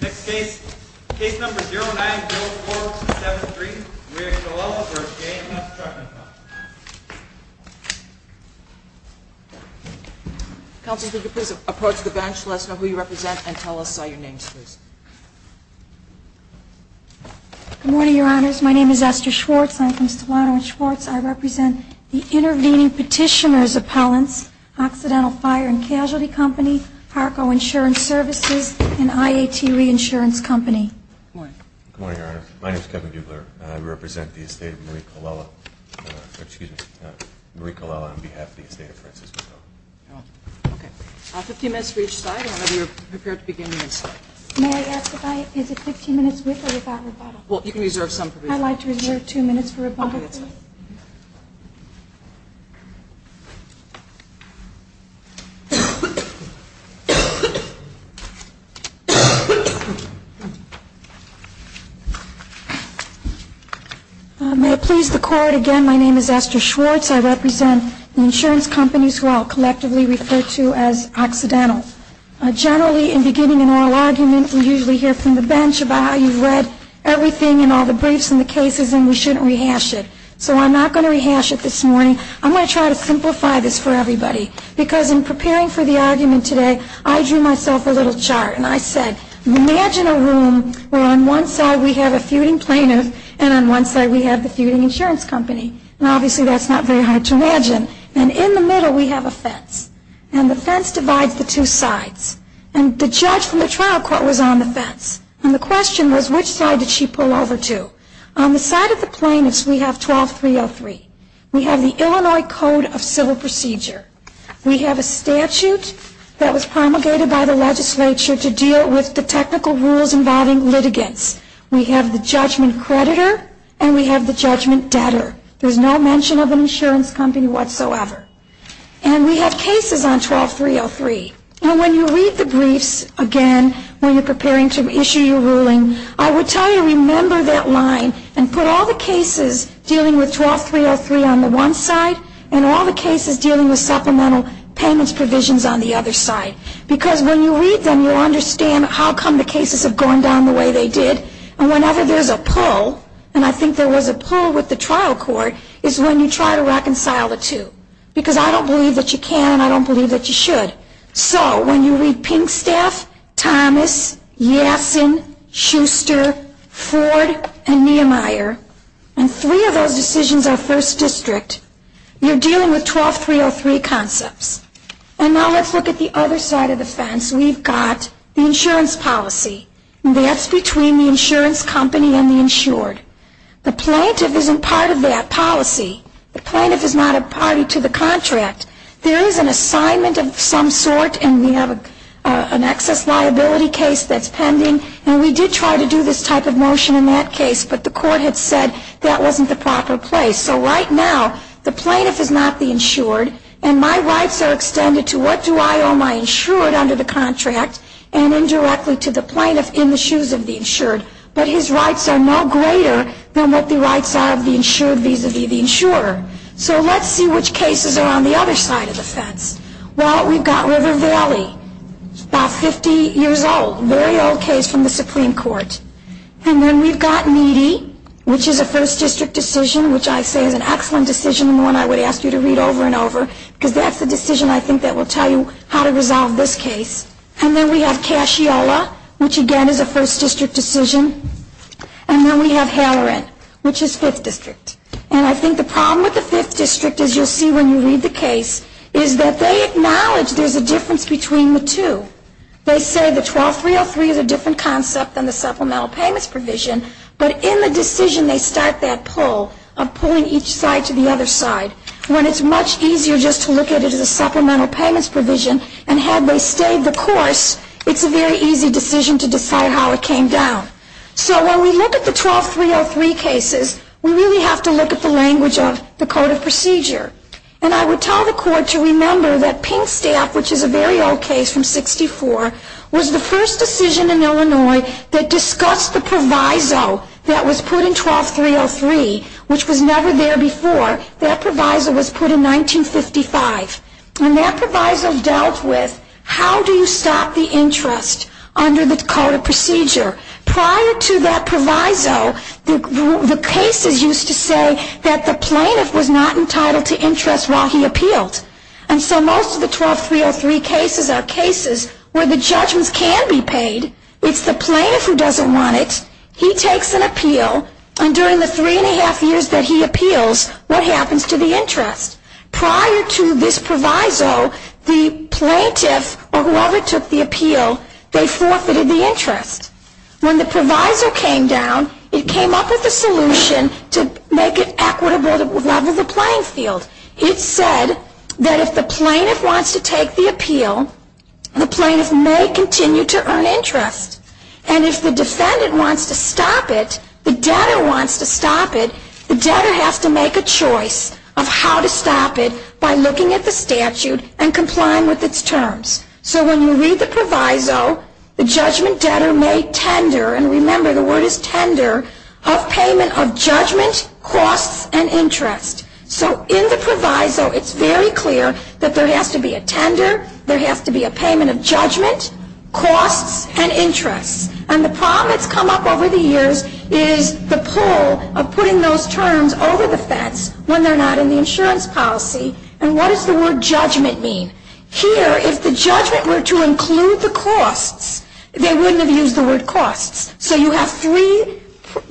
Next case, case number 090473, Maria Chialella v. JMS Trucking Company. Counselor, could you please approach the bench, let us know who you represent, and tell us your names, please. Good morning, Your Honors. My name is Esther Schwartz. I'm from Stavano and Schwartz. I represent the Intervening Petitioner's Appellants, Occidental Fire and Casualty Company, Parco Insurance Services, and IAT Reinsurance Company. Good morning. Good morning, Your Honor. My name is Kevin Buebler. I represent the estate of Maria Chialella on behalf of the estate of Francesco. Okay. Fifteen minutes for each side, and then we are prepared to begin on this side. May I ask if I visit fifteen minutes with or without rebuttal? Well, you can reserve some for rebuttal. I'd like to reserve two minutes for rebuttal. Okay, that's fine. May it please the Court, again, my name is Esther Schwartz. I represent the insurance companies who I'll collectively refer to as Occidental. Generally, in beginning an oral argument, we usually hear from the bench about how you've read everything and all the briefs and the cases, and we shouldn't rehash it. So I'm not going to rehash it this morning. I'm going to try to simplify this for everybody. Because in preparing for the argument today, I drew myself a little chart, and I said, imagine a room where on one side we have a feuding plaintiff, and on one side we have the feuding insurance company. And in the middle we have a fence. And the fence divides the two sides. And the judge from the trial court was on the fence. And the question was, which side did she pull over to? On the side of the plaintiffs, we have 12303. We have the Illinois Code of Civil Procedure. We have a statute that was promulgated by the legislature to deal with the technical rules involving litigants. We have the judgment creditor, and we have the judgment debtor. There's no mention of an insurance company whatsoever. And we have cases on 12303. And when you read the briefs, again, when you're preparing to issue your ruling, I would tell you, remember that line and put all the cases dealing with 12303 on the one side and all the cases dealing with supplemental payments provisions on the other side. Because when you read them, you'll understand how come the cases have gone down the way they did. And whenever there's a pull, and I think there was a pull with the trial court, is when you try to reconcile the two. Because I don't believe that you can, and I don't believe that you should. So when you read Pinkstaff, Thomas, Yassen, Schuster, Ford, and Niemeyer, and three of those decisions are first district, you're dealing with 12303 concepts. And now let's look at the other side of the fence. We've got the insurance policy. And that's between the insurance company and the insured. The plaintiff isn't part of that policy. The plaintiff is not a party to the contract. There is an assignment of some sort, and we have an excess liability case that's pending. And we did try to do this type of motion in that case, but the court had said that wasn't the proper place. So right now, the plaintiff is not the insured, and my rights are extended to what do I owe my insured under the contract and indirectly to the plaintiff in the shoes of the insured. But his rights are no greater than what the rights are of the insured vis-a-vis the insurer. So let's see which cases are on the other side of the fence. Well, we've got River Valley, about 50 years old, a very old case from the Supreme Court. And then we've got Meadey, which is a first district decision, which I say is an excellent decision and one I would ask you to read over and over, because that's the decision I think that will tell you how to resolve this case. And then we have Casciola, which again is a first district decision. And then we have Halloran, which is fifth district. And I think the problem with the fifth district, as you'll see when you read the case, is that they acknowledge there's a difference between the two. They say the 12303 is a different concept than the supplemental payments provision, but in the decision they start that pull of pulling each side to the other side, when it's much easier just to look at it as a supplemental payments provision. And had they stayed the course, it's a very easy decision to decide how it came down. So when we look at the 12303 cases, we really have to look at the language of the Code of Procedure. And I would tell the Court to remember that Pinkstaff, which is a very old case from 1964, was the first decision in Illinois that discussed the proviso that was put in 12303, which was never there before. That proviso was put in 1955. And that proviso dealt with how do you stop the interest under the Code of Procedure. Prior to that proviso, the cases used to say that the plaintiff was not entitled to interest while he appealed. And so most of the 12303 cases are cases where the judgments can be paid. It's the plaintiff who doesn't want it. He takes an appeal. And during the three and a half years that he appeals, what happens to the interest? Prior to this proviso, the plaintiff or whoever took the appeal, they forfeited the interest. When the proviso came down, it came up with a solution to make it equitable to level the playing field. It said that if the plaintiff wants to take the appeal, the plaintiff may continue to earn interest. And if the defendant wants to stop it, the debtor wants to stop it, the debtor has to make a choice of how to stop it by looking at the statute and complying with its terms. So when you read the proviso, the judgment debtor may tender, and remember the word is tender, a payment of judgment, costs, and interest. So in the proviso, it's very clear that there has to be a tender, there has to be a payment of judgment, costs, and interest. And the problem that's come up over the years is the pull of putting those terms over the fence when they're not in the insurance policy. And what does the word judgment mean? Here, if the judgment were to include the costs, they wouldn't have used the word costs. So you have three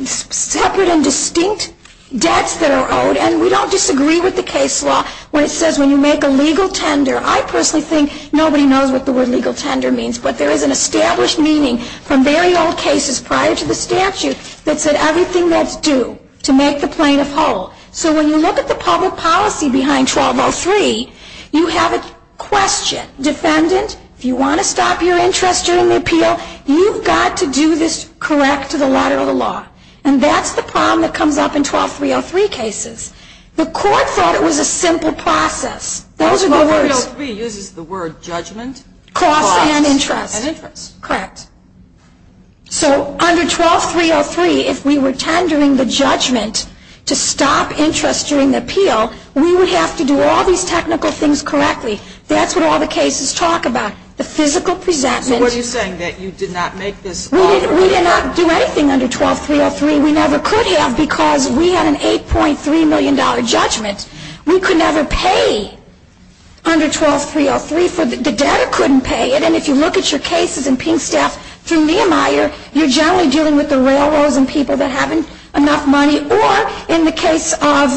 separate and distinct debts that are owed, and we don't disagree with the case law where it says when you make a legal tender, I personally think nobody knows what the word legal tender means, but there is an established meaning from very old cases prior to the statute that said everything that's due to make the plaintiff whole. So when you look at the public policy behind 1203, you have a question. Defendant, if you want to stop your interest during the appeal, you've got to do this correct to the letter of the law. And that's the problem that comes up in 12303 cases. The court thought it was a simple process. Those are the words. 1203 uses the word judgment. Costs and interest. Costs and interest. Correct. So under 12303, if we were tendering the judgment to stop interest during the appeal, we would have to do all these technical things correctly. That's what all the cases talk about, the physical presentment. So what are you saying, that you did not make this all the way up? We did not do anything under 12303. We never could have because we had an $8.3 million judgment. We could never pay under 12303 for the debtor couldn't pay it. And if you look at your cases in Pinkstaff through Nehemiah, you're generally dealing with the railroads and people that haven't enough money. Or in the case of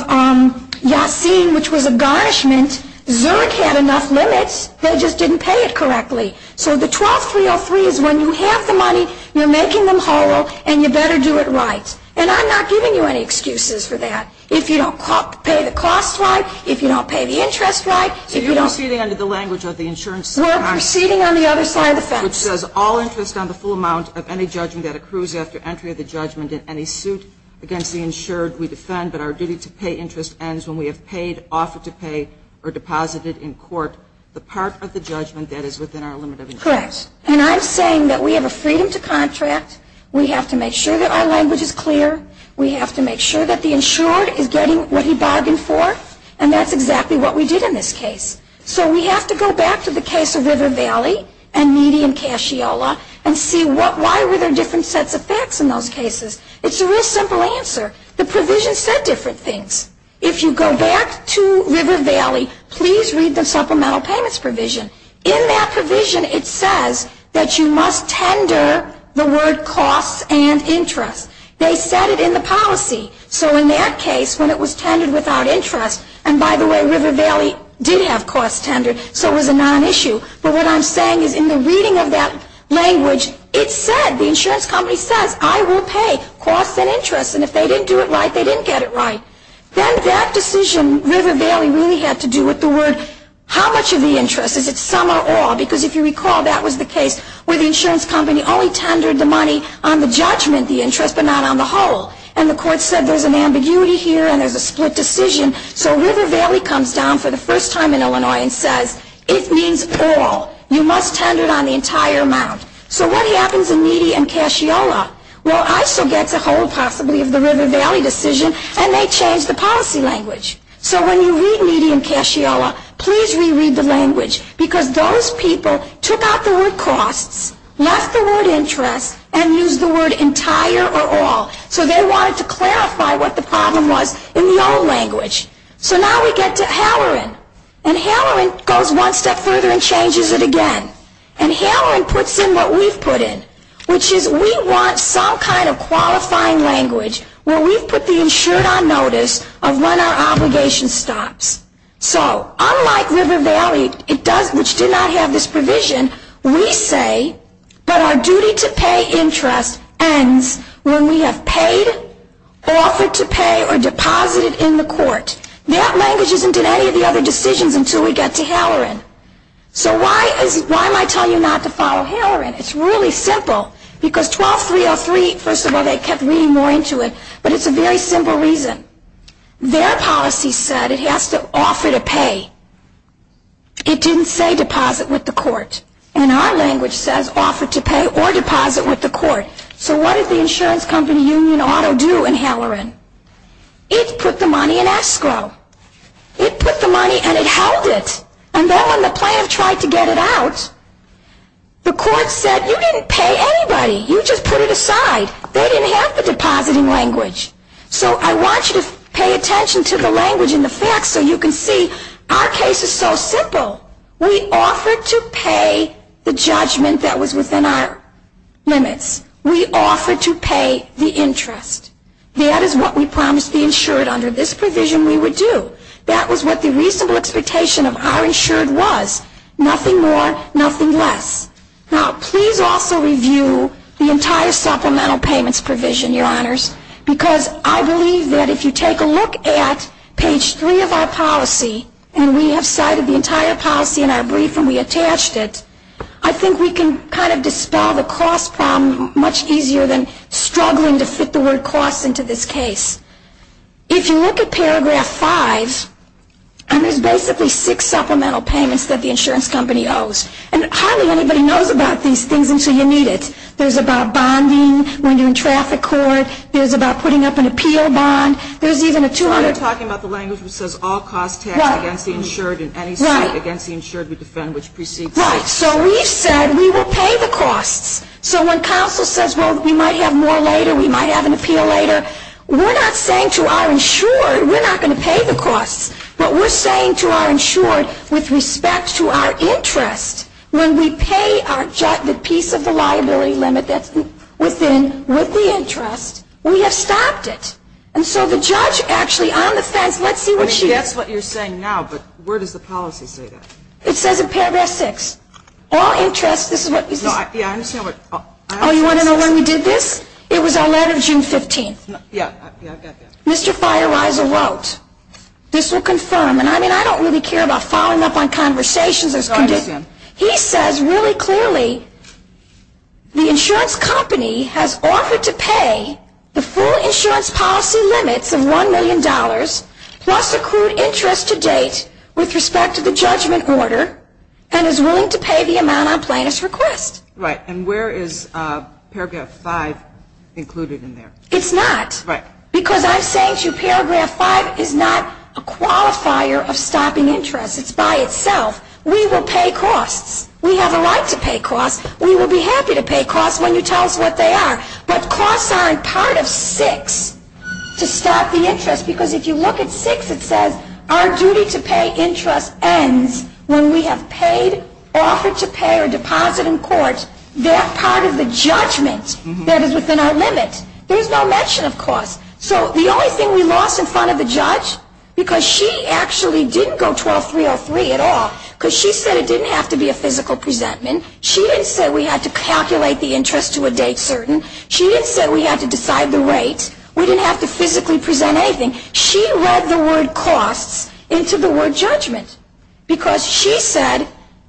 Yassin, which was a garnishment, Zurich had enough limits. They just didn't pay it correctly. So the 12303 is when you have the money, you're making them whole, and you better do it right. And I'm not giving you any excuses for that. If you don't pay the cost right, if you don't pay the interest right, if you don't – So you're proceeding under the language of the insurance – We're proceeding on the other side of the fence. Which says all interest on the full amount of any judgment that accrues after entry of the judgment in any suit against the insured we defend, but our duty to pay interest ends when we have paid, offered to pay, or deposited in court the part of the judgment that is within our limit of interest. Correct. And I'm saying that we have a freedom to contract. We have to make sure that our language is clear. We have to make sure that the insured is getting what he bargained for. And that's exactly what we did in this case. So we have to go back to the case of River Valley and Median Cashiola and see why were there different sets of facts in those cases. It's a real simple answer. The provision said different things. If you go back to River Valley, please read the supplemental payments provision. In that provision it says that you must tender the word costs and interest. They said it in the policy. So in that case when it was tendered without interest, and by the way River Valley did have costs tendered so it was a non-issue, but what I'm saying is in the reading of that language it said, the insurance company says I will pay costs and interest, and if they didn't do it right they didn't get it right. Then that decision, River Valley really had to do with the word how much of the interest, is it some or all, because if you recall that was the case where the insurance company only tendered the money on the judgment, the interest, but not on the whole. And the court said there's an ambiguity here and there's a split decision, so River Valley comes down for the first time in Illinois and says it means all. You must tender it on the entire amount. So what happens in Median Cashiola? Well, ISO gets a hold possibly of the River Valley decision and they change the policy language. So when you read Median Cashiola, please reread the language, because those people took out the word costs, left the word interest, and used the word entire or all. So they wanted to clarify what the problem was in the old language. So now we get to Halloran, and Halloran goes one step further and changes it again. And Halloran puts in what we've put in, which is we want some kind of qualifying language where we've put the insured on notice of when our obligation stops. So unlike River Valley, which did not have this provision, we say that our duty to pay interest ends when we have paid, offered to pay, or deposited in the court. That language isn't in any of the other decisions until we get to Halloran. So why am I telling you not to follow Halloran? It's really simple, because 12303, first of all, they kept reading more into it, but it's a very simple reason. Their policy said it has to offer to pay. It didn't say deposit with the court. And our language says offer to pay or deposit with the court. So what did the insurance company Union Auto do in Halloran? It put the money in escrow. It put the money and it held it. And then when the plaintiff tried to get it out, the court said you didn't pay anybody. You just put it aside. They didn't have the depositing language. So I want you to pay attention to the language in the facts so you can see our case is so simple. We offered to pay the judgment that was within our limits. We offered to pay the interest. That is what we promised the insured under this provision we would do. That was what the reasonable expectation of our insured was. Nothing more, nothing less. Now, please also review the entire supplemental payments provision, Your Honors, because I believe that if you take a look at page 3 of our policy and we have cited the entire policy in our brief and we attached it, I think we can kind of dispel the cost problem much easier than struggling to fit the word cost into this case. If you look at paragraph 5, there's basically six supplemental payments that the insurance company owes. And hardly anybody knows about these things until you meet it. There's about bonding when you're in traffic court. There's about putting up an appeal bond. There's even a 200- So you're talking about the language that says all costs taxed against the insured in any state against the insured we defend which precedes us. Right. So we've said we will pay the costs. So when counsel says, well, we might have more later, we might have an appeal later, we're not saying to our insured we're not going to pay the costs. What we're saying to our insured with respect to our interest, when we pay the piece of the liability limit that's within, with the interest, we have stopped it. And so the judge actually on the fence, let's see what she- I mean, that's what you're saying now, but where does the policy say that? It says in paragraph 6, all interest, this is what- Yeah, I understand what- Oh, you want to know when we did this? It was our letter June 15th. Yeah, yeah, I got that. Mr. Feierweiser wrote, this will confirm, and I mean, I don't really care about following up on conversations. I understand. He says really clearly the insurance company has offered to pay the full insurance policy limits of $1 million, plus accrued interest to date with respect to the judgment order, and is willing to pay the amount on plaintiff's request. Right. And where is paragraph 5 included in there? It's not. Right. Because I'm saying to you paragraph 5 is not a qualifier of stopping interest. It's by itself. We will pay costs. We have a right to pay costs. We will be happy to pay costs when you tell us what they are. But costs aren't part of 6 to stop the interest, because if you look at 6 it says our duty to pay interest ends when we have paid, offered to pay, or deposit in court that part of the judgment that is within our limit. There is no mention of costs. So the only thing we lost in front of the judge, because she actually didn't go 12303 at all, because she said it didn't have to be a physical presentment. She didn't say we had to calculate the interest to a date certain. She didn't say we had to decide the rate. We didn't have to physically present anything. She read the word costs into the word judgment, because she said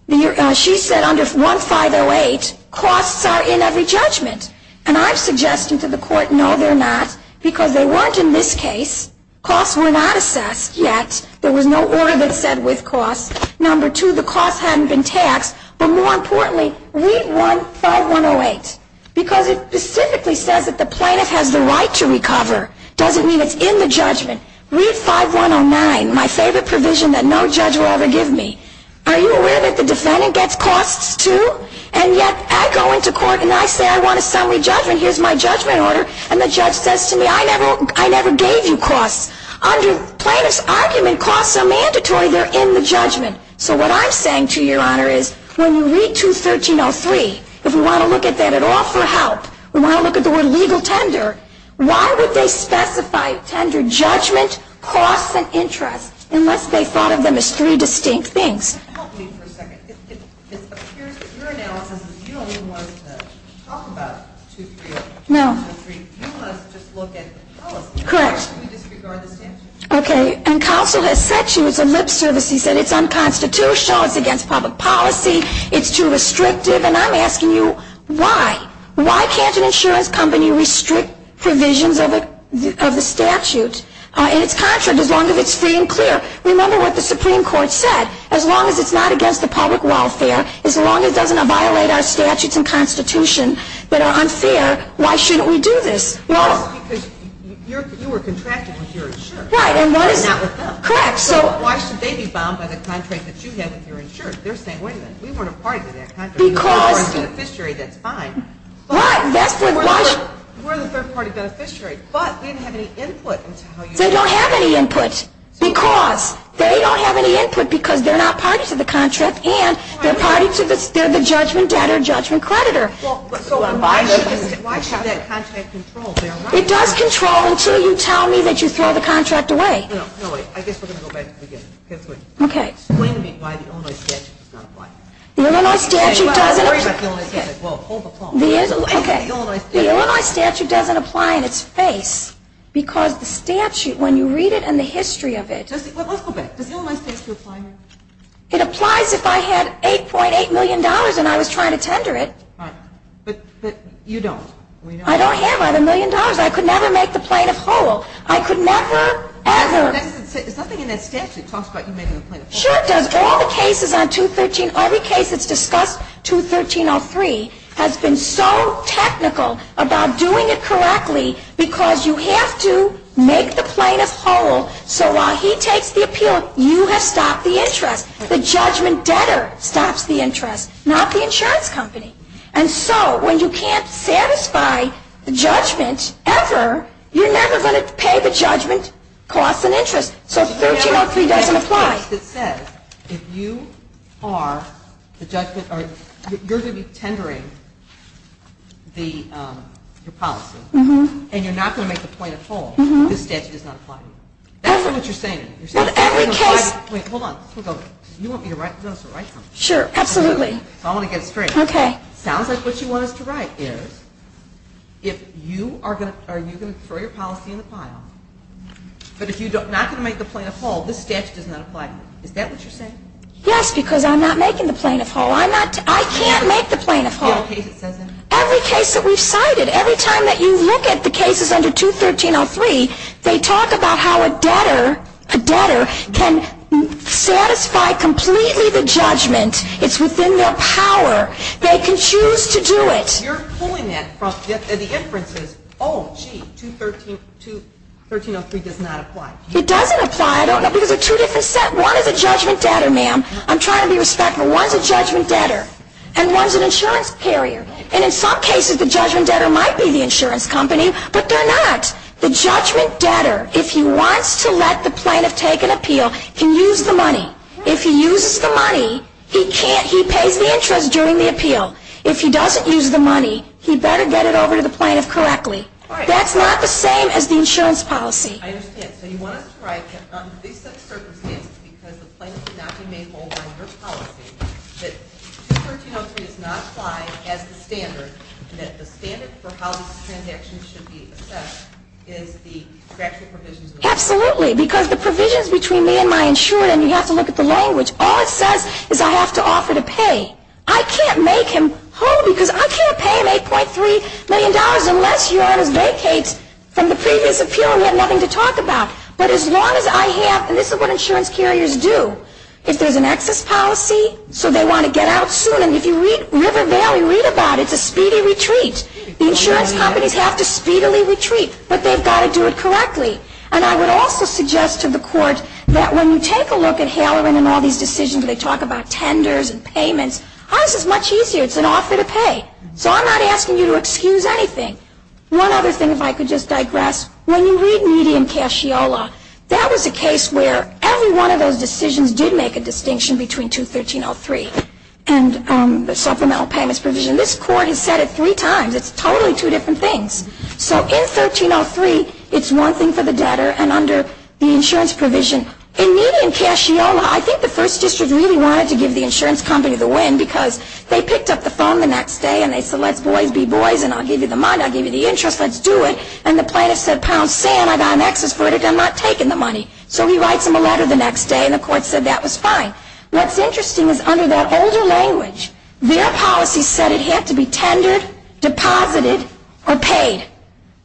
under 1508 costs are in every judgment. And I'm suggesting to the court, no, they're not, because they weren't in this case. Costs were not assessed yet. There was no order that said with costs. Number two, the costs hadn't been taxed. But more importantly, read 1508, because it specifically says that the plaintiff has the right to recover. It doesn't mean it's in the judgment. Read 5109, my favorite provision that no judge will ever give me. Are you aware that the defendant gets costs too? And yet I go into court and I say I want a summary judgment. Here's my judgment order. And the judge says to me, I never gave you costs. Under plaintiff's argument, costs are mandatory. They're in the judgment. So what I'm saying to your Honor is when you read 21303, if we want to look at that at all for help, we want to look at the word legal tender, why would they specify tender judgment, costs, and interest, unless they thought of them as three distinct things? Can you help me for a second? Your analysis is you don't even want us to talk about 21303. You want us to just look at policy. Correct. Why should we disregard the statute? Okay. And counsel has said to you, it's a lip service. He said it's unconstitutional. It's against public policy. It's too restrictive. And I'm asking you why. Why can't an insurance company restrict provisions of the statute? And it's contrary as long as it's free and clear. Remember what the Supreme Court said. As long as it's not against the public welfare, as long as it doesn't violate our statutes and constitution that are unfair, why shouldn't we do this? Because you were contracted with your insurer. Right. And not with them. Correct. So why should they be bound by the contract that you had with your insurer? They're saying, wait a minute, we weren't a part of that contract. Because. We're a third-party beneficiary. That's fine. Right. We're the third-party beneficiary, but we didn't have any input. They don't have any input. Because. They don't have any input because they're not party to the contract and they're the judgment debtor, judgment creditor. So why should that contract control their rights? It does control until you tell me that you throw the contract away. No, wait. I guess we're going to go back to the beginning. Okay. Explain to me why the Illinois statute does not apply. The Illinois statute doesn't. Well, hold the phone. Okay. The Illinois statute doesn't apply in its face because the statute, when you read it and the history of it. Let's go back. Does the Illinois statute apply here? It applies if I had $8.8 million and I was trying to tender it. Right. But you don't. I don't have either million dollars. I could never make the plaintiff whole. I could never, ever. Something in that statute talks about you making the plaintiff whole. Sure it does. All the cases on 213, every case that's discussed, 213.03, has been so technical about doing it correctly because you have to make the plaintiff whole. If the judge takes the appeal, you have stopped the interest. The judgment debtor stops the interest, not the insurance company. And so when you can't satisfy the judgment ever, you're never going to pay the judgment cost and interest. So 213.03 doesn't apply. It says if you are the judgment or you're going to be tendering your policy and you're not going to make the plaintiff whole, this statute does not apply to you. That's not what you're saying. Every case. Hold on. You want me to write something? Sure, absolutely. I want to get it straight. Okay. Sounds like what you want us to write is if you are going to throw your policy in the pile, but if you're not going to make the plaintiff whole, this statute does not apply to you. Is that what you're saying? Yes, because I'm not making the plaintiff whole. I can't make the plaintiff whole. Every case that we've cited, every time that you look at the cases under 213.03, they talk about how a debtor can satisfy completely the judgment. It's within their power. They can choose to do it. You're pulling that from the inferences. Oh, gee, 213.03 does not apply. It doesn't apply because there are two different sets. One is a judgment debtor, ma'am. I'm trying to be respectful. One is a judgment debtor and one is an insurance carrier. And in some cases the judgment debtor might be the insurance company, but they're not. The judgment debtor, if he wants to let the plaintiff take an appeal, can use the money. If he uses the money, he pays the interest during the appeal. If he doesn't use the money, he better get it over to the plaintiff correctly. That's not the same as the insurance policy. I understand. So you want us to write that under these circumstances, because the plaintiff cannot be made whole under policy, that 213.03 does not apply as the standard, that the standard for how these transactions should be assessed is the statutory provisions. Absolutely, because the provisions between me and my insurer, and you have to look at the language, all it says is I have to offer to pay. I can't make him whole because I can't pay him $8.3 million unless he vacates from the previous appeal and we have nothing to talk about. But as long as I have, and this is what insurance carriers do, if there's an excess policy, so they want to get out soon, if you read River Valley, read about it, it's a speedy retreat. The insurance companies have to speedily retreat, but they've got to do it correctly. And I would also suggest to the court that when you take a look at Haloran and all these decisions, they talk about tenders and payments. Ours is much easier. It's an offer to pay. So I'm not asking you to excuse anything. One other thing, if I could just digress. When you read Median Cashiola, that was a case where every one of those decisions did make a distinction between 213.03. And the supplemental payments provision. This court has said it three times. It's totally two different things. So in 1303, it's one thing for the debtor and under the insurance provision. In Median Cashiola, I think the first district really wanted to give the insurance company the win because they picked up the phone the next day and they said, let's boys be boys and I'll give you the money, I'll give you the interest, let's do it. And the plaintiff said, pal, Sam, I got an excess verdict. I'm not taking the money. So he writes them a letter the next day and the court said that was fine. What's interesting is under that older language, their policy said it had to be tendered, deposited, or paid.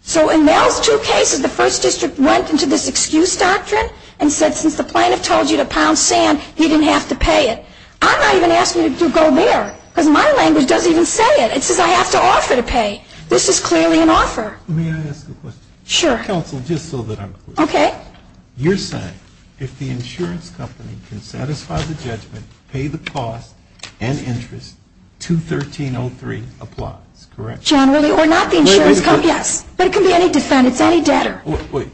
So in those two cases, the first district went into this excuse doctrine and said since the plaintiff told you to pound Sam, he didn't have to pay it. I'm not even asking you to go there because my language doesn't even say it. It says I have to offer to pay. This is clearly an offer. May I ask a question? Sure. Counsel, just so that I'm clear. Okay. You're saying if the insurance company can satisfy the judgment, pay the cost, and interest, 213.03 applies, correct? Generally, or not the insurance company, yes. But it can be any defense, any debtor. Wait.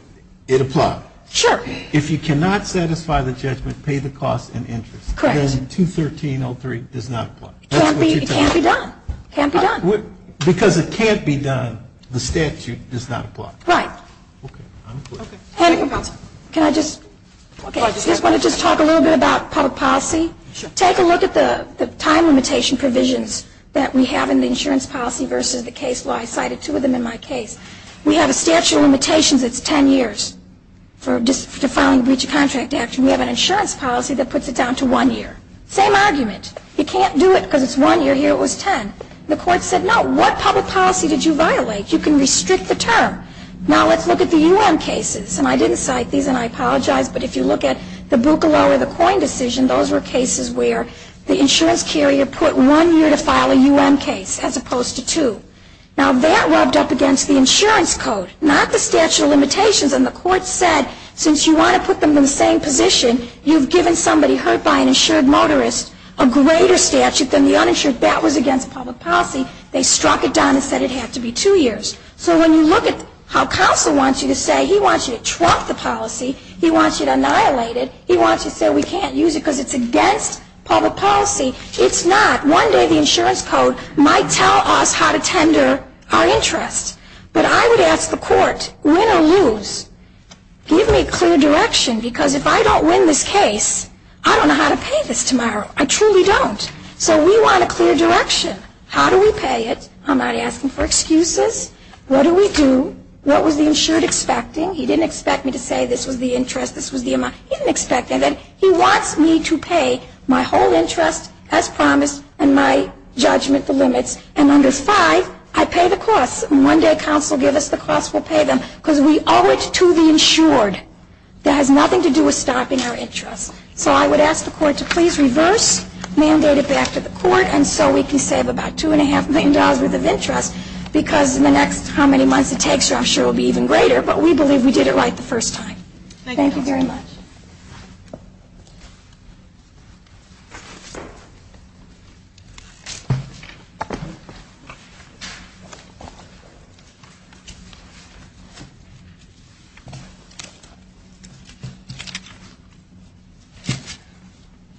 It applies. Sure. If you cannot satisfy the judgment, pay the cost, and interest, then 213.03 does not apply. It can't be done. It can't be done. Because it can't be done, the statute does not apply. Right. Okay. I'm clear. Okay. Can I just – I just want to talk a little bit about public policy. Take a look at the time limitation provisions that we have in the insurance policy versus the case law. I cited two of them in my case. We have a statute of limitations that's ten years for defiling a breach of contract action. We have an insurance policy that puts it down to one year. Same argument. You can't do it because it's one year here, it was ten. The court said no. What public policy did you violate? You can restrict the term. Now let's look at the U.N. cases. And I didn't cite these and I apologize, but if you look at the Buccalow or the Coyne decision, those were cases where the insurance carrier put one year to file a U.N. case as opposed to two. Now that rubbed up against the insurance code, not the statute of limitations. And the court said since you want to put them in the same position, you've given somebody hurt by an insured motorist a greater statute than the uninsured. That was against public policy. They struck it down and said it had to be two years. So when you look at how counsel wants you to say he wants you to trump the policy, he wants you to annihilate it, he wants you to say we can't use it because it's against public policy. It's not. One day the insurance code might tell us how to tender our interest. But I would ask the court, win or lose, give me a clear direction because if I don't win this case, I don't know how to pay this tomorrow. I truly don't. So we want a clear direction. How do we pay it? I'm not asking for excuses. What do we do? What was the insured expecting? He didn't expect me to say this was the interest, this was the amount. He didn't expect that. He wants me to pay my whole interest as promised and my judgment, the limits. And under 5, I pay the cost. And one day counsel will give us the cost, we'll pay them. Because we owe it to the insured. That has nothing to do with stopping our interest. So I would ask the court to please reverse, mandate it back to the court, and so we can save about $2.5 million worth of interest because in the next how many months it takes, I'm sure it will be even greater. But we believe we did it right the first time. Thank you very much.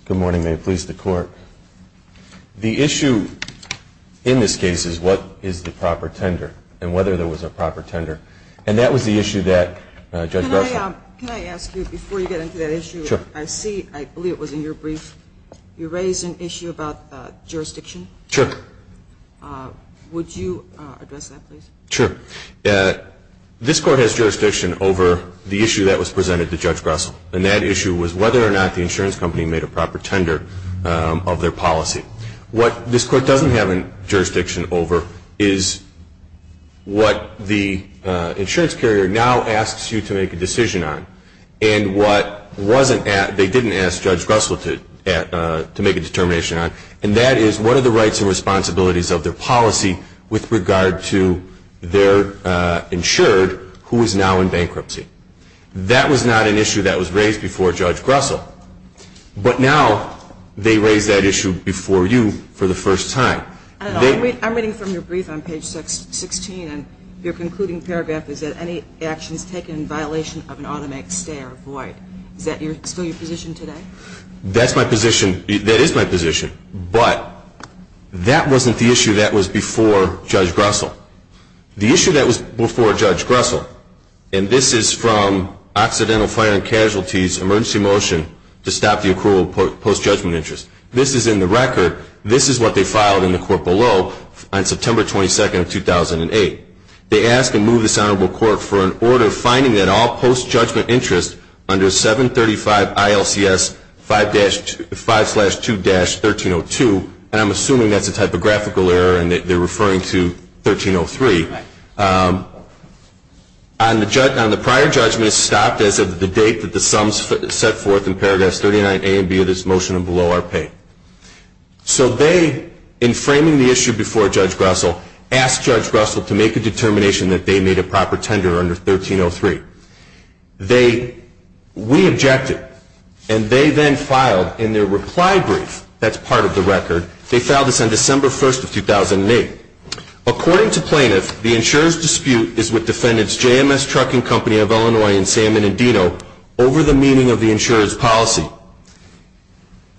Good morning. May it please the court. The issue in this case is what is the proper tender and whether there was a proper tender. And that was the issue that Judge Grussell. Can I ask you before you get into that issue? Sure. I see, I believe it was in your brief, you raised an issue about jurisdiction. Sure. Would you address that please? Sure. This court has jurisdiction over the issue that was presented to Judge Grussell. And that issue was whether or not the insurance company made a proper tender of their policy. What this court doesn't have jurisdiction over is what the insurance carrier now asks you to make a decision on. And what they didn't ask Judge Grussell to make a determination on, and that is what are the rights and responsibilities of their policy with regard to their insured who is now in bankruptcy. That was not an issue that was raised before Judge Grussell. But now they raise that issue before you for the first time. I'm reading from your brief on page 16, and your concluding paragraph is that any actions taken in violation of an automatic stay are void. Is that still your position today? That's my position. That is my position. But that wasn't the issue that was before Judge Grussell. The issue that was before Judge Grussell, and this is from Occidental Fire and Casualties Emergency Motion to Stop the Approval of Post-Judgment Interest. This is in the record. This is what they filed in the court below on September 22, 2008. They asked to move this honorable court for an order finding that all post-judgment interest under 735 ILCS 5-2-1302, and I'm assuming that's a typographical error and that they're referring to 1303. On the prior judgment stopped as of the date that the sums set forth in paragraph 39A and B of this motion are below our pay. So they, in framing the issue before Judge Grussell, asked Judge Grussell to make a determination that they made a proper tender under 1303. We objected, and they then filed in their reply brief, that's part of the record, they filed this on December 1, 2008. According to plaintiff, the insurer's dispute is with defendants JMS Trucking Company of Illinois and San Bernardino over the meaning of the insurer's policy.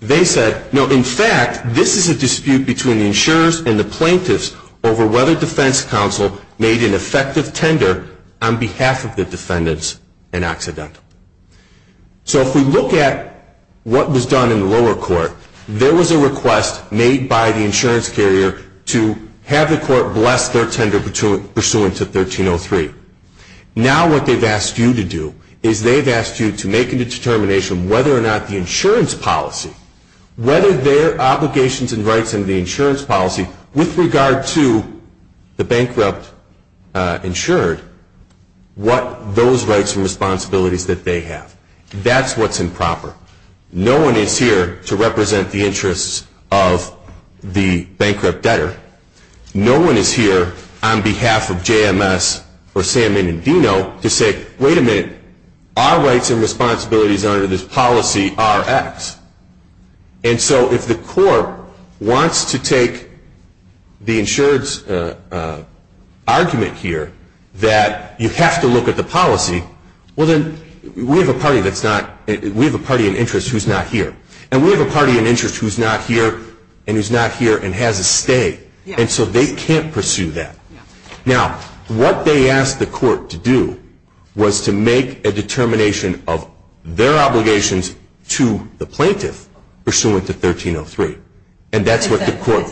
They said, no, in fact, this is a dispute between the insurers and the plaintiffs over whether defense counsel made an effective tender on behalf of the defendants in Occidental. So if we look at what was done in the lower court, there was a request made by the insurance carrier to have the court bless their tender pursuant to 1303. Now what they've asked you to do is they've asked you to make a determination whether or not the insurance policy, whether their obligations and rights under the insurance policy with regard to the bankrupt insured, what those rights and responsibilities that they have. That's what's improper. No one is here to represent the interests of the bankrupt debtor. No one is here on behalf of JMS or San Bernardino to say, wait a minute, our rights and responsibilities under this policy are X. And so if the court wants to take the insured's argument here that you have to look at the policy, well, then we have a party in interest who's not here. And we have a party in interest who's not here and who's not here and has a stay. And so they can't pursue that. Now what they asked the court to do was to make a determination of their obligations to the plaintiff pursuant to 1303. And that's what the court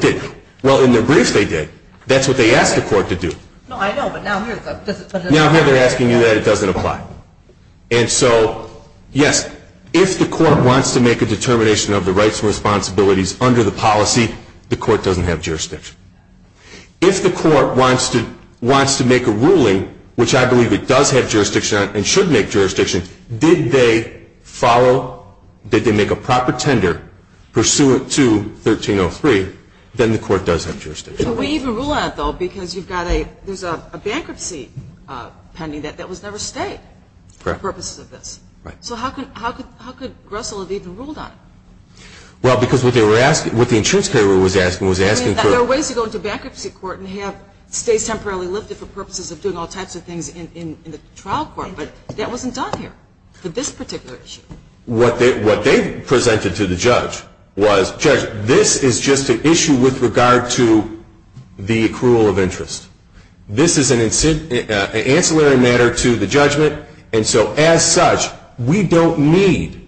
did. Well, in the brief they did. That's what they asked the court to do. Now here they're asking you that it doesn't apply. And so, yes, if the court wants to make a determination of the rights and responsibilities under the policy, the court doesn't have jurisdiction. If the court wants to make a ruling, which I believe it does have jurisdiction and should make jurisdiction, did they follow, did they make a proper tender pursuant to 1303, then the court does have jurisdiction. We even rule on it, though, because you've got a bankruptcy pending that was never stayed for purposes of this. Right. So how could Russell have even ruled on it? Well, because what the insurance carrier was asking was asking for – I mean, there are ways to go into bankruptcy court and have stays temporarily lifted for purposes of doing all types of things in the trial court. But that wasn't done here for this particular issue. What they presented to the judge was, Judge, this is just an issue with regard to the accrual of interest. This is an ancillary matter to the judgment. And so, as such, we don't need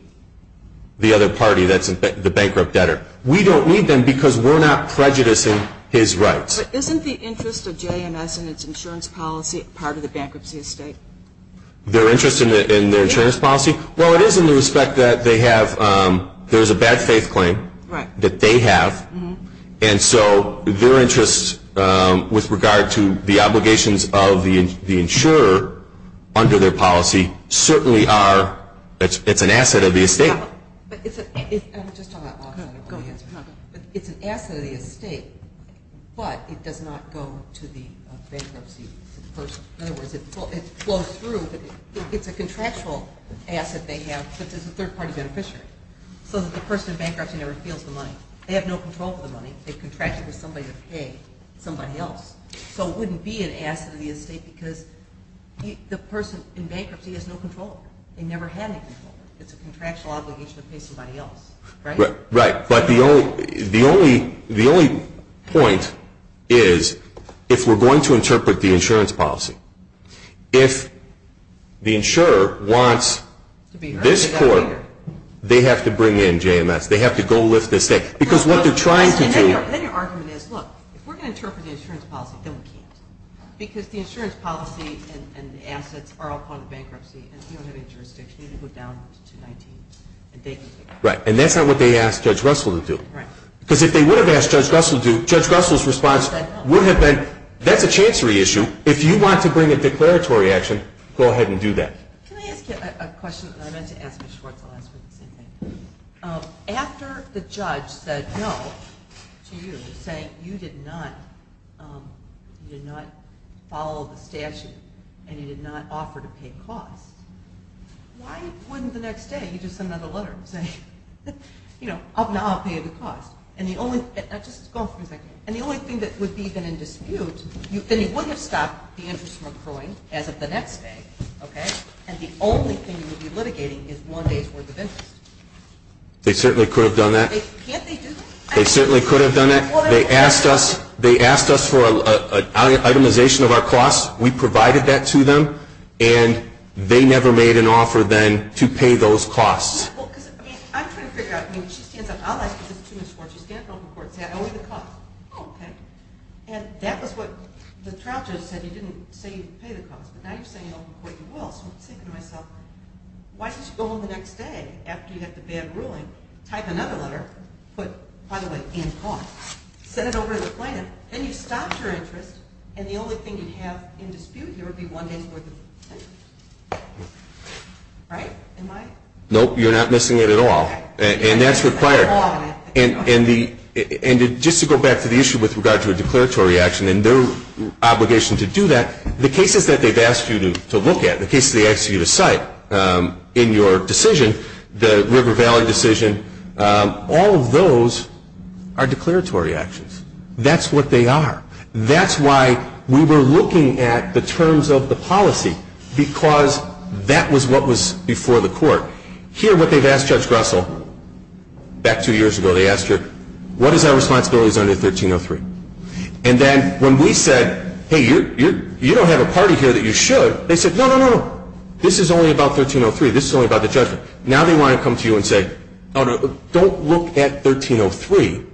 the other party that's the bankrupt debtor. We don't need them because we're not prejudicing his rights. But isn't the interest of JMS and its insurance policy part of the bankruptcy estate? Their interest in their insurance policy? Well, it is in the respect that they have – there's a bad-faith claim that they have. And so their interest with regard to the obligations of the insurer under their policy certainly are – it's an asset of the estate. But it's an – I'm just talking about law. Go ahead. It's an asset of the estate, but it does not go to the bankruptcy person. In other words, it flows through, but it's a contractual asset they have that is a third-party beneficiary, so that the person in bankruptcy never feels the money. They have no control of the money. They've contracted with somebody to pay somebody else. So it wouldn't be an asset of the estate because the person in bankruptcy has no control over it. They never had any control over it. It's a contractual obligation to pay somebody else. Right? Right. But the only point is if we're going to interpret the insurance policy. If the insurer wants this court, they have to bring in JMS. They have to go lift this estate. Because what they're trying to do – And then your argument is, look, if we're going to interpret the insurance policy, then we can't. Because the insurance policy and the assets are all part of bankruptcy, and we don't have any jurisdiction. We need to go down to 219. Right. And that's not what they asked Judge Russell to do. Right. Because if they would have asked Judge Russell to do it, Judge Russell's response would have been, that's a chancery issue. If you want to bring a declaratory action, go ahead and do that. Can I ask you a question? I meant to ask Ms. Schwartz. I'll ask her the same thing. After the judge said no to you, saying you did not follow the statute and you did not offer to pay costs, why wouldn't the next day you just send another letter saying, you know, I'll pay the cost? And the only thing that would be even in dispute, then you wouldn't have stopped the interest from accruing as of the next day, okay? And the only thing you would be litigating is one day's worth of interest. They certainly could have done that. Can't they do that? They certainly could have done that. They asked us for an itemization of our costs. We provided that to them, and they never made an offer then to pay those costs. Well, because, I mean, I'm trying to figure out. I mean, she stands up. I'll ask Ms. Schwartz. You stand up in open court and say I owe you the cost. Oh, okay. And that was what the trial judge said. He didn't say you'd pay the cost. But now you're saying in open court you will. So I'm thinking to myself, why don't you go on the next day after you have the bad ruling, type another letter, put, by the way, in cost, send it over to the plaintiff, then you've stopped your interest, and the only thing you'd have in dispute here would be one day's worth of interest. Right? Nope, you're not missing it at all. And that's required. And just to go back to the issue with regard to a declaratory action and their obligation to do that, the cases that they've asked you to look at, the cases they've asked you to cite in your decision, the River Valley decision, all of those are declaratory actions. That's what they are. That's why we were looking at the terms of the policy because that was what was before the court. Here what they've asked Judge Grussell, back two years ago, they asked her, what is our responsibilities under 1303? And then when we said, hey, you don't have a party here that you should, they said, no, no, no, this is only about 1303. This is only about the judgment. Now they want to come to you and say, oh, no, don't look at 1303.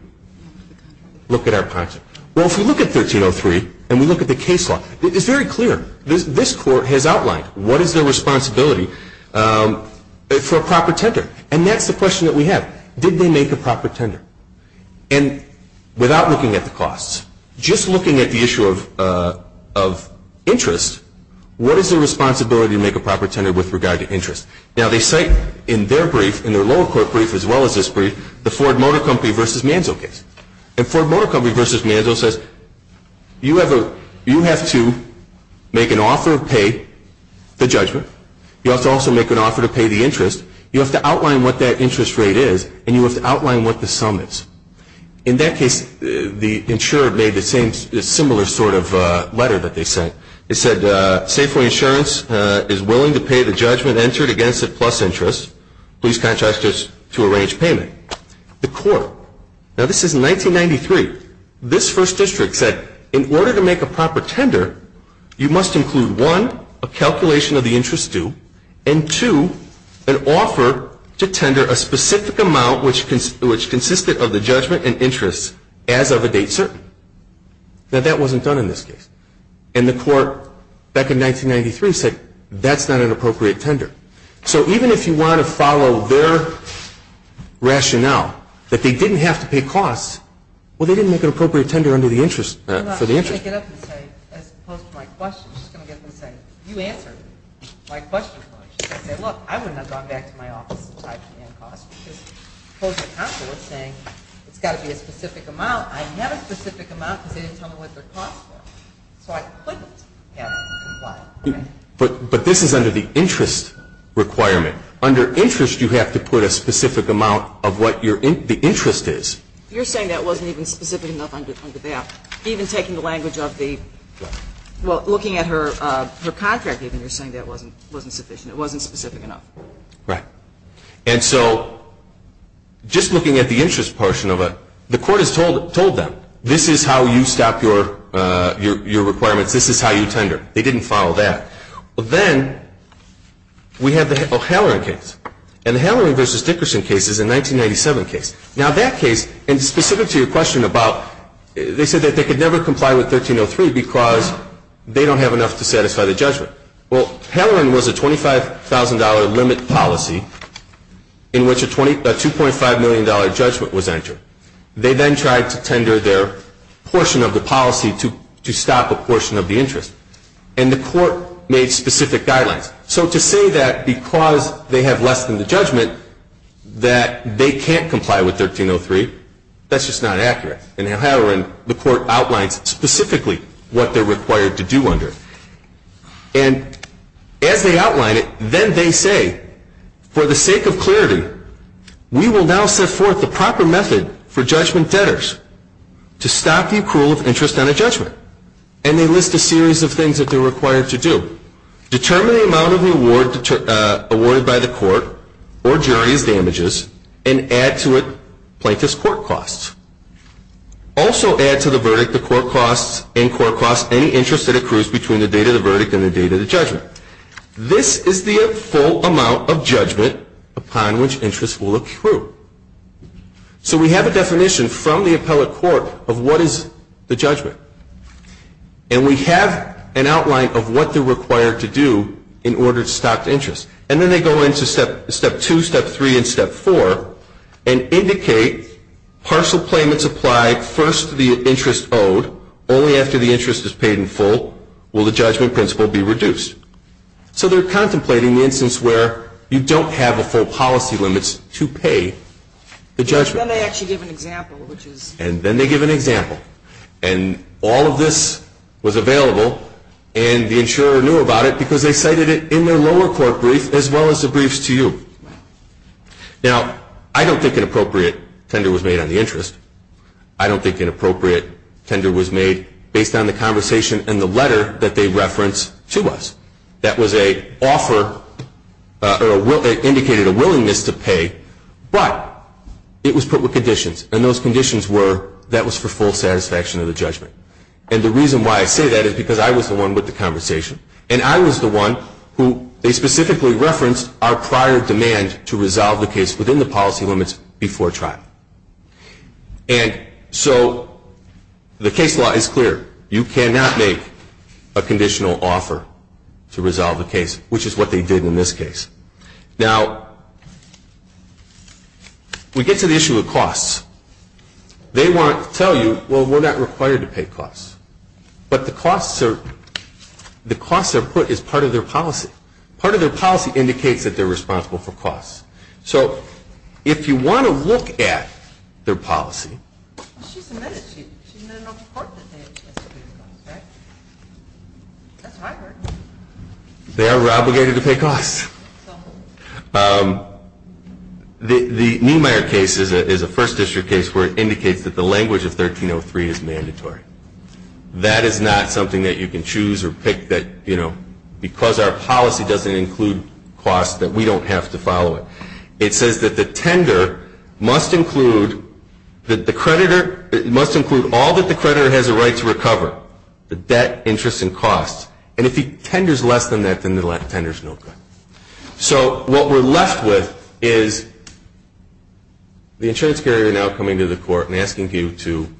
Look at our policy. Well, if we look at 1303 and we look at the case law, it's very clear. This court has outlined what is their responsibility for a proper tender. And that's the question that we have. Did they make a proper tender? And without looking at the costs, just looking at the issue of interest, what is their responsibility to make a proper tender with regard to interest? Now they cite in their brief, in their lower court brief as well as this brief, the Ford Motor Company v. Manzo case. And Ford Motor Company v. Manzo says, you have to make an offer to pay the judgment. You have to also make an offer to pay the interest. You have to outline what that interest rate is, and you have to outline what the sum is. In that case, the insurer made the similar sort of letter that they sent. It said, say for insurance is willing to pay the judgment entered against a plus interest, please contract us to arrange payment. The court, now this is 1993, this first district said, in order to make a proper tender, you must include, one, a calculation of the interest due, and two, an offer to tender a specific amount which consisted of the judgment and interest as of a date certain. Now that wasn't done in this case. And the court back in 1993 said, that's not an appropriate tender. So even if you want to follow their rationale that they didn't have to pay costs, well, they didn't make an appropriate tender for the interest. But this is under the interest requirement. Under interest, you have to put a specific amount of what the interest is. You're saying that wasn't even specific enough under that. Even taking the language of the, well, looking at her contract, even you're saying that wasn't sufficient. It wasn't specific enough. Right. And so just looking at the interest portion of it, the court has told them, this is how you stop your requirements. This is how you tender. They didn't follow that. But then we have the Halloran case. And the Halloran v. Dickerson case is a 1997 case. Now that case, and specific to your question about, they said that they could never comply with 1303 because they don't have enough to satisfy the judgment. Well, Halloran was a $25,000 limit policy in which a $2.5 million judgment was entered. They then tried to tender their portion of the policy to stop a portion of the interest. And the court made specific guidelines. So to say that because they have less than the judgment that they can't comply with 1303, that's just not accurate. In Halloran, the court outlines specifically what they're required to do under it. And as they outline it, then they say, for the sake of clarity, we will now set forth the proper method for judgment debtors to stop the accrual of interest on a judgment. And they list a series of things that they're required to do. Determine the amount of reward awarded by the court or jury as damages and add to it plaintiff's court costs. Also add to the verdict the court costs and court costs any interest that accrues between the date of the verdict and the date of the judgment. This is the full amount of judgment upon which interest will accrue. So we have a definition from the appellate court of what is the judgment. And we have an outline of what they're required to do in order to stop the interest. And then they go into step two, step three, and step four and indicate partial claimants apply first to the interest owed. Only after the interest is paid in full will the judgment principle be reduced. So they're contemplating the instance where you don't have a full policy limits to pay the judgment. And then they actually give an example, which is... All of this was available and the insurer knew about it because they cited it in their lower court brief as well as the briefs to you. Now, I don't think an appropriate tender was made on the interest. I don't think an appropriate tender was made based on the conversation and the letter that they referenced to us. That was an offer or indicated a willingness to pay, but it was put with conditions. And those conditions were that was for full satisfaction of the judgment. And the reason why I say that is because I was the one with the conversation and I was the one who they specifically referenced our prior demand to resolve the case within the policy limits before trial. And so the case law is clear. You cannot make a conditional offer to resolve the case, which is what they did in this case. Now, we get to the issue of costs. They want to tell you, well, we're not required to pay costs. But the costs are put as part of their policy. Part of their policy indicates that they're responsible for costs. So if you want to look at their policy... Well, she submitted it. She submitted an open court that they had to pay the costs, right? That's what I heard. They are obligated to pay costs. The Niemeyer case is a First District case where it indicates that the language of 1303 is mandatory. That is not something that you can choose or pick that, you know, because our policy doesn't include costs that we don't have to follow it. It says that the tender must include all that the creditor has a right to recover, the debt, interest, and costs. And if the tender is less than that, then the tender is no good. So what we're left with is the insurance carrier now coming to the court and asking you to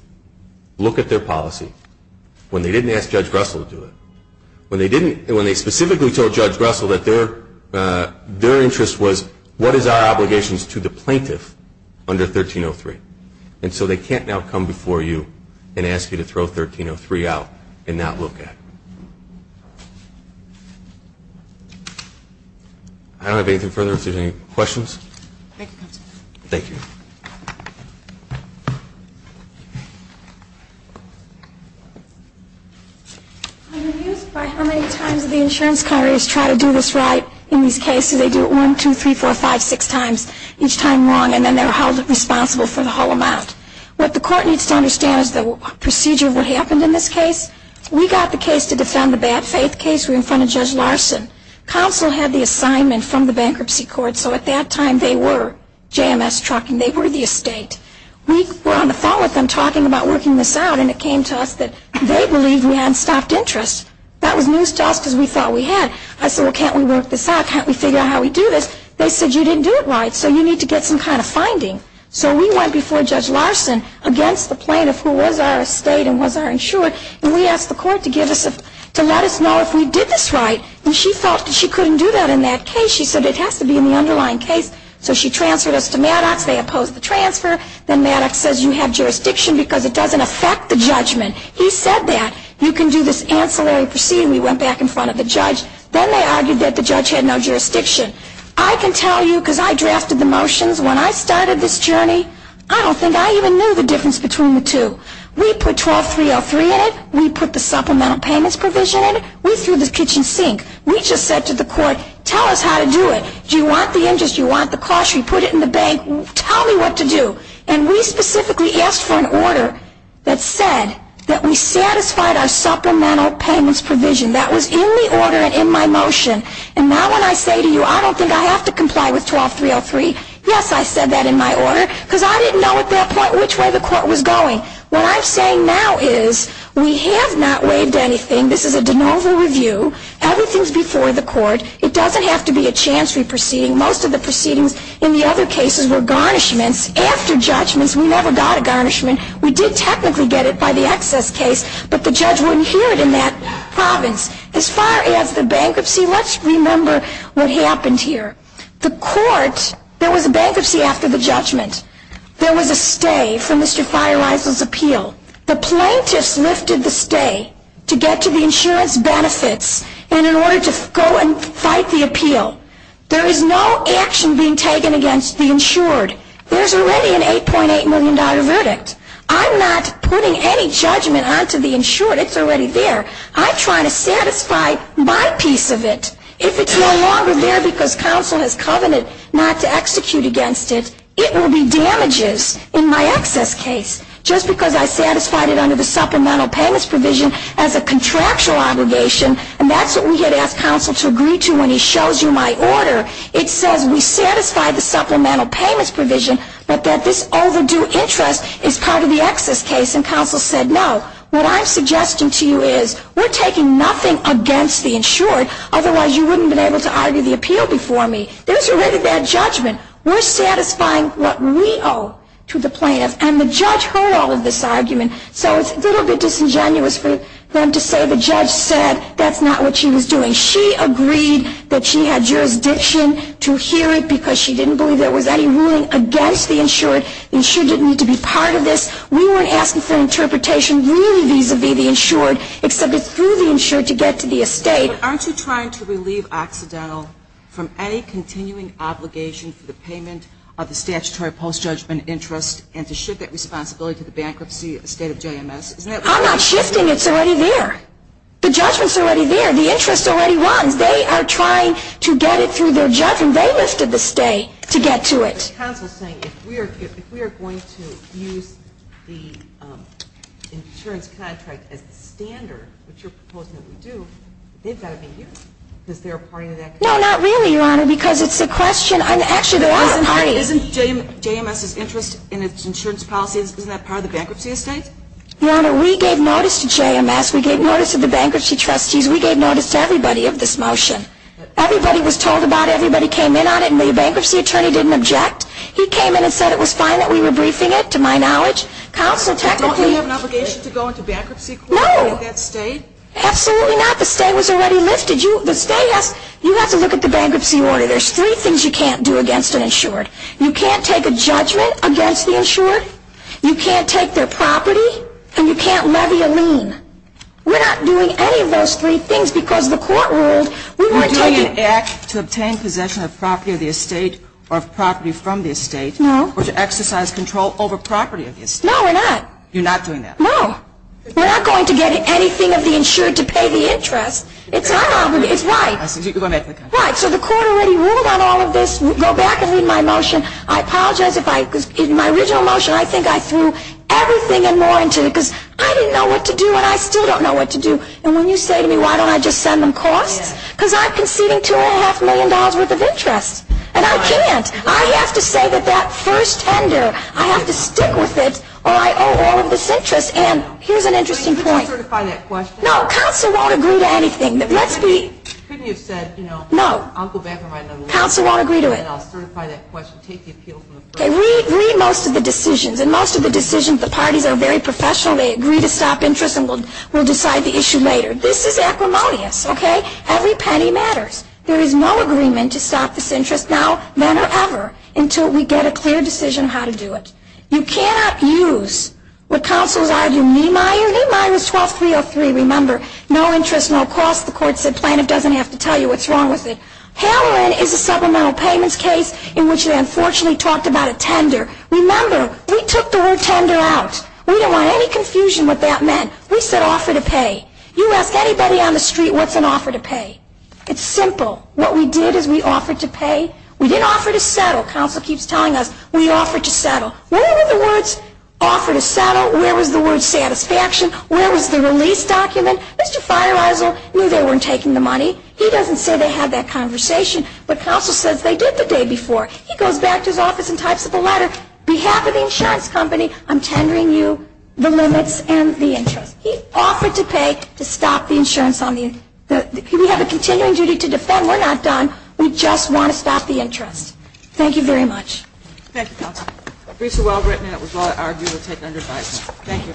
look at their policy when they didn't ask Judge Russell to do it, when they specifically told Judge Russell that their interest was, what is our obligations to the plaintiff under 1303? And so they can't now come before you and ask you to throw 1303 out and not look at it. I don't have anything further if there's any questions. Thank you, Counselor. Thank you. I'm amused by how many times the insurance carriers try to do this right in these cases. They do it one, two, three, four, five, six times, each time wrong, and then they're held responsible for the whole amount. What the court needs to understand is the procedure of what happened in this case. We got the case to defend the bad faith case. We were in front of Judge Larson. Counsel had the assignment from the Bankruptcy Court, so at that time they were JMS trucking the case. We were on the phone with them talking about working this out, and it came to us that they believed we had stopped interest. That was news to us because we thought we had. I said, well, can't we work this out? Can't we figure out how we do this? They said, you didn't do it right, so you need to get some kind of finding. So we went before Judge Larson against the plaintiff who was our estate and was our insurer, and we asked the court to let us know if we did this right, and she felt that she couldn't do that in that case. She said it has to be in the underlying case, so she transferred us to Maddox. They opposed the transfer. Then Maddox says you have jurisdiction because it doesn't affect the judgment. He said that. You can do this ancillary proceeding. We went back in front of the judge. Then they argued that the judge had no jurisdiction. I can tell you, because I drafted the motions when I started this journey, I don't think I even knew the difference between the two. We put 12303 in it. We put the supplemental payments provision in it. We threw the kitchen sink. We just said to the court, tell us how to do it. Do you want the interest? Do you want the cost? We put it in the bank. Tell me what to do. We specifically asked for an order that said that we satisfied our supplemental payments provision. That was in the order and in my motion. Now when I say to you, I don't think I have to comply with 12303, yes, I said that in my order because I didn't know at that point which way the court was going. What I'm saying now is we have not waived anything. This is a de novo review. Everything is before the court. It doesn't have to be an ancillary proceeding. Most of the proceedings in the other cases were garnishments. After judgments, we never got a garnishment. We did technically get it by the excess case, but the judge wouldn't hear it in that province. As far as the bankruptcy, let's remember what happened here. The court, there was a bankruptcy after the judgment. There was a stay for Mr. Feierweiser's appeal. The plaintiffs lifted the stay to get to the insurance benefits and in order to go and fight the appeal. There is no action being taken against the insured. There's already an $8.8 million verdict. I'm not putting any judgment onto the insured. It's already there. I'm trying to satisfy my piece of it. If it's no longer there because counsel has covenanted not to execute against it, it will be damages in my excess case just because I satisfied it under the supplemental payments provision as a contractual obligation and that's what we had asked counsel to agree to and when he shows you my order, it says we satisfy the supplemental payments provision but that this overdue interest is part of the excess case and counsel said no. What I'm suggesting to you is we're taking nothing against the insured, otherwise you wouldn't have been able to argue the appeal before me. There's already that judgment. We're satisfying what we owe to the plaintiffs and the judge heard all of this argument so it's a little bit disingenuous for them to say the judge said that's not what she was doing. She agreed that she had jurisdiction to hear it because she didn't believe there was any ruling against the insured. The insured didn't need to be part of this. We weren't asking for interpretation really vis-a-vis the insured except it's through the insured to get to the estate. Aren't you trying to relieve Occidental from any continuing obligation for the payment of the statutory post-judgment interest and to shift that responsibility to the bankruptcy estate of JMS? I'm not shifting. It's already there. The judgment's already there. The interest already runs. They are trying to get it through their judgment. They lifted the stay to get to it. The counsel's saying if we are going to use the insurance contract as the standard, which you're proposing that we do, they've got to be used because they're a party to that contract. No, not really, Your Honor, because it's the question. Actually, there are parties. Isn't JMS's interest in its insurance policy, isn't that part of the bankruptcy estate? Your Honor, we gave notice to JMS. We gave notice to the bankruptcy trustees. We gave notice to everybody of this motion. Everybody was told about it. Everybody came in on it, and the bankruptcy attorney didn't object. He came in and said it was fine that we were briefing it, to my knowledge. Counsel, technically... Don't you have an obligation to go into bankruptcy court with that stay? Absolutely not. The stay was already lifted. You have to look at the bankruptcy order. There's three things you can't do against an insured. You can't take a judgment against the insured. You can't take their property, and you can't levy a lien. We're not doing any of those three things because the court ruled we weren't taking... You're doing an act to obtain possession of property of the estate or of property from the estate... No. ...or to exercise control over property of the estate. No, we're not. You're not doing that? No. We're not going to get anything of the insured to pay the interest. It's our obligation. It's right. So the court already ruled on all of this. Go back and read my motion. I apologize, because in my original motion, I think I threw everything and more into it I didn't know what to do, and I still don't know what to do. And when you say to me, why don't I just send them costs? Because I'm conceding $2.5 million worth of interest. And I can't. I have to say that that first tender, I have to stick with it, or I owe all of this interest. And here's an interesting point. Let's certify that question. No, counsel won't agree to anything. Let's be... Couldn't you have said, you know, I'll go back and write another motion... No, counsel won't agree to it. ...and I'll certify that question, take the appeal from the court. Okay, read most of the decisions. In most of the decisions, the parties are very professional. They agree to stop interest, and we'll decide the issue later. This is acrimonious, okay? Every penny matters. There is no agreement to stop this interest now, then or ever, until we get a clear decision how to do it. You cannot use what counsel is arguing. Niemeyer, Niemeyer is 12303. Remember, no interest, no cost. The court said plaintiff doesn't have to tell you what's wrong with it. Haloran is a supplemental payments case in which they unfortunately talked about a tender. Remember, we took the word tender out. We don't want any confusion what that meant. We said offer to pay. You ask anybody on the street, what's an offer to pay? It's simple. What we did is we offered to pay. We didn't offer to settle. Counsel keeps telling us, we offered to settle. Where were the words offer to settle? Where was the word satisfaction? Where was the release document? Mr. Feierisel knew they weren't taking the money. He doesn't say they had that conversation. But counsel says they did the day before. He goes back to his office and types up a letter. On behalf of the insurance company, I'm tendering you the limits and the interest. He offered to pay to stop the insurance on the end. We have a continuing duty to defend. We're not done. We just want to stop the interest. Thank you very much. Thank you, counsel. The briefs are well written, and it was well argued and taken under advice. Thank you.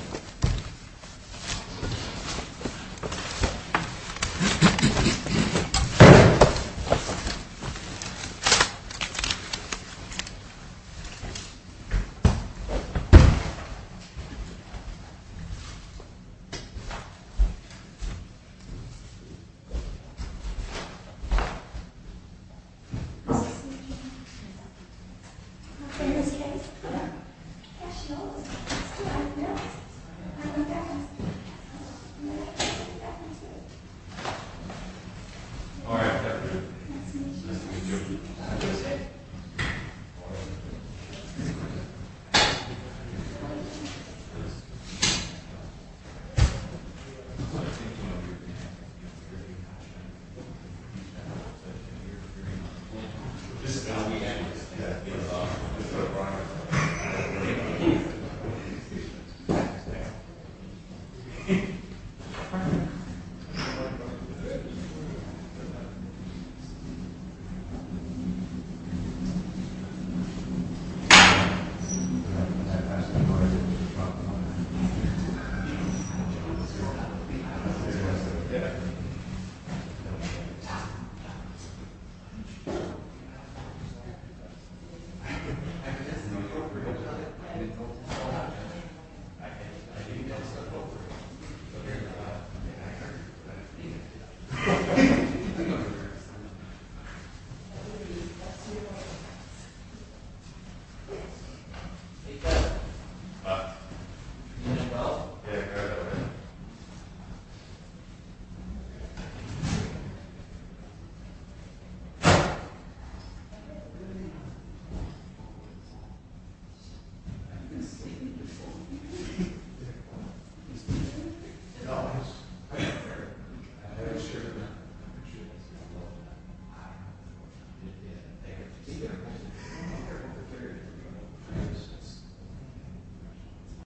All right. Thank you.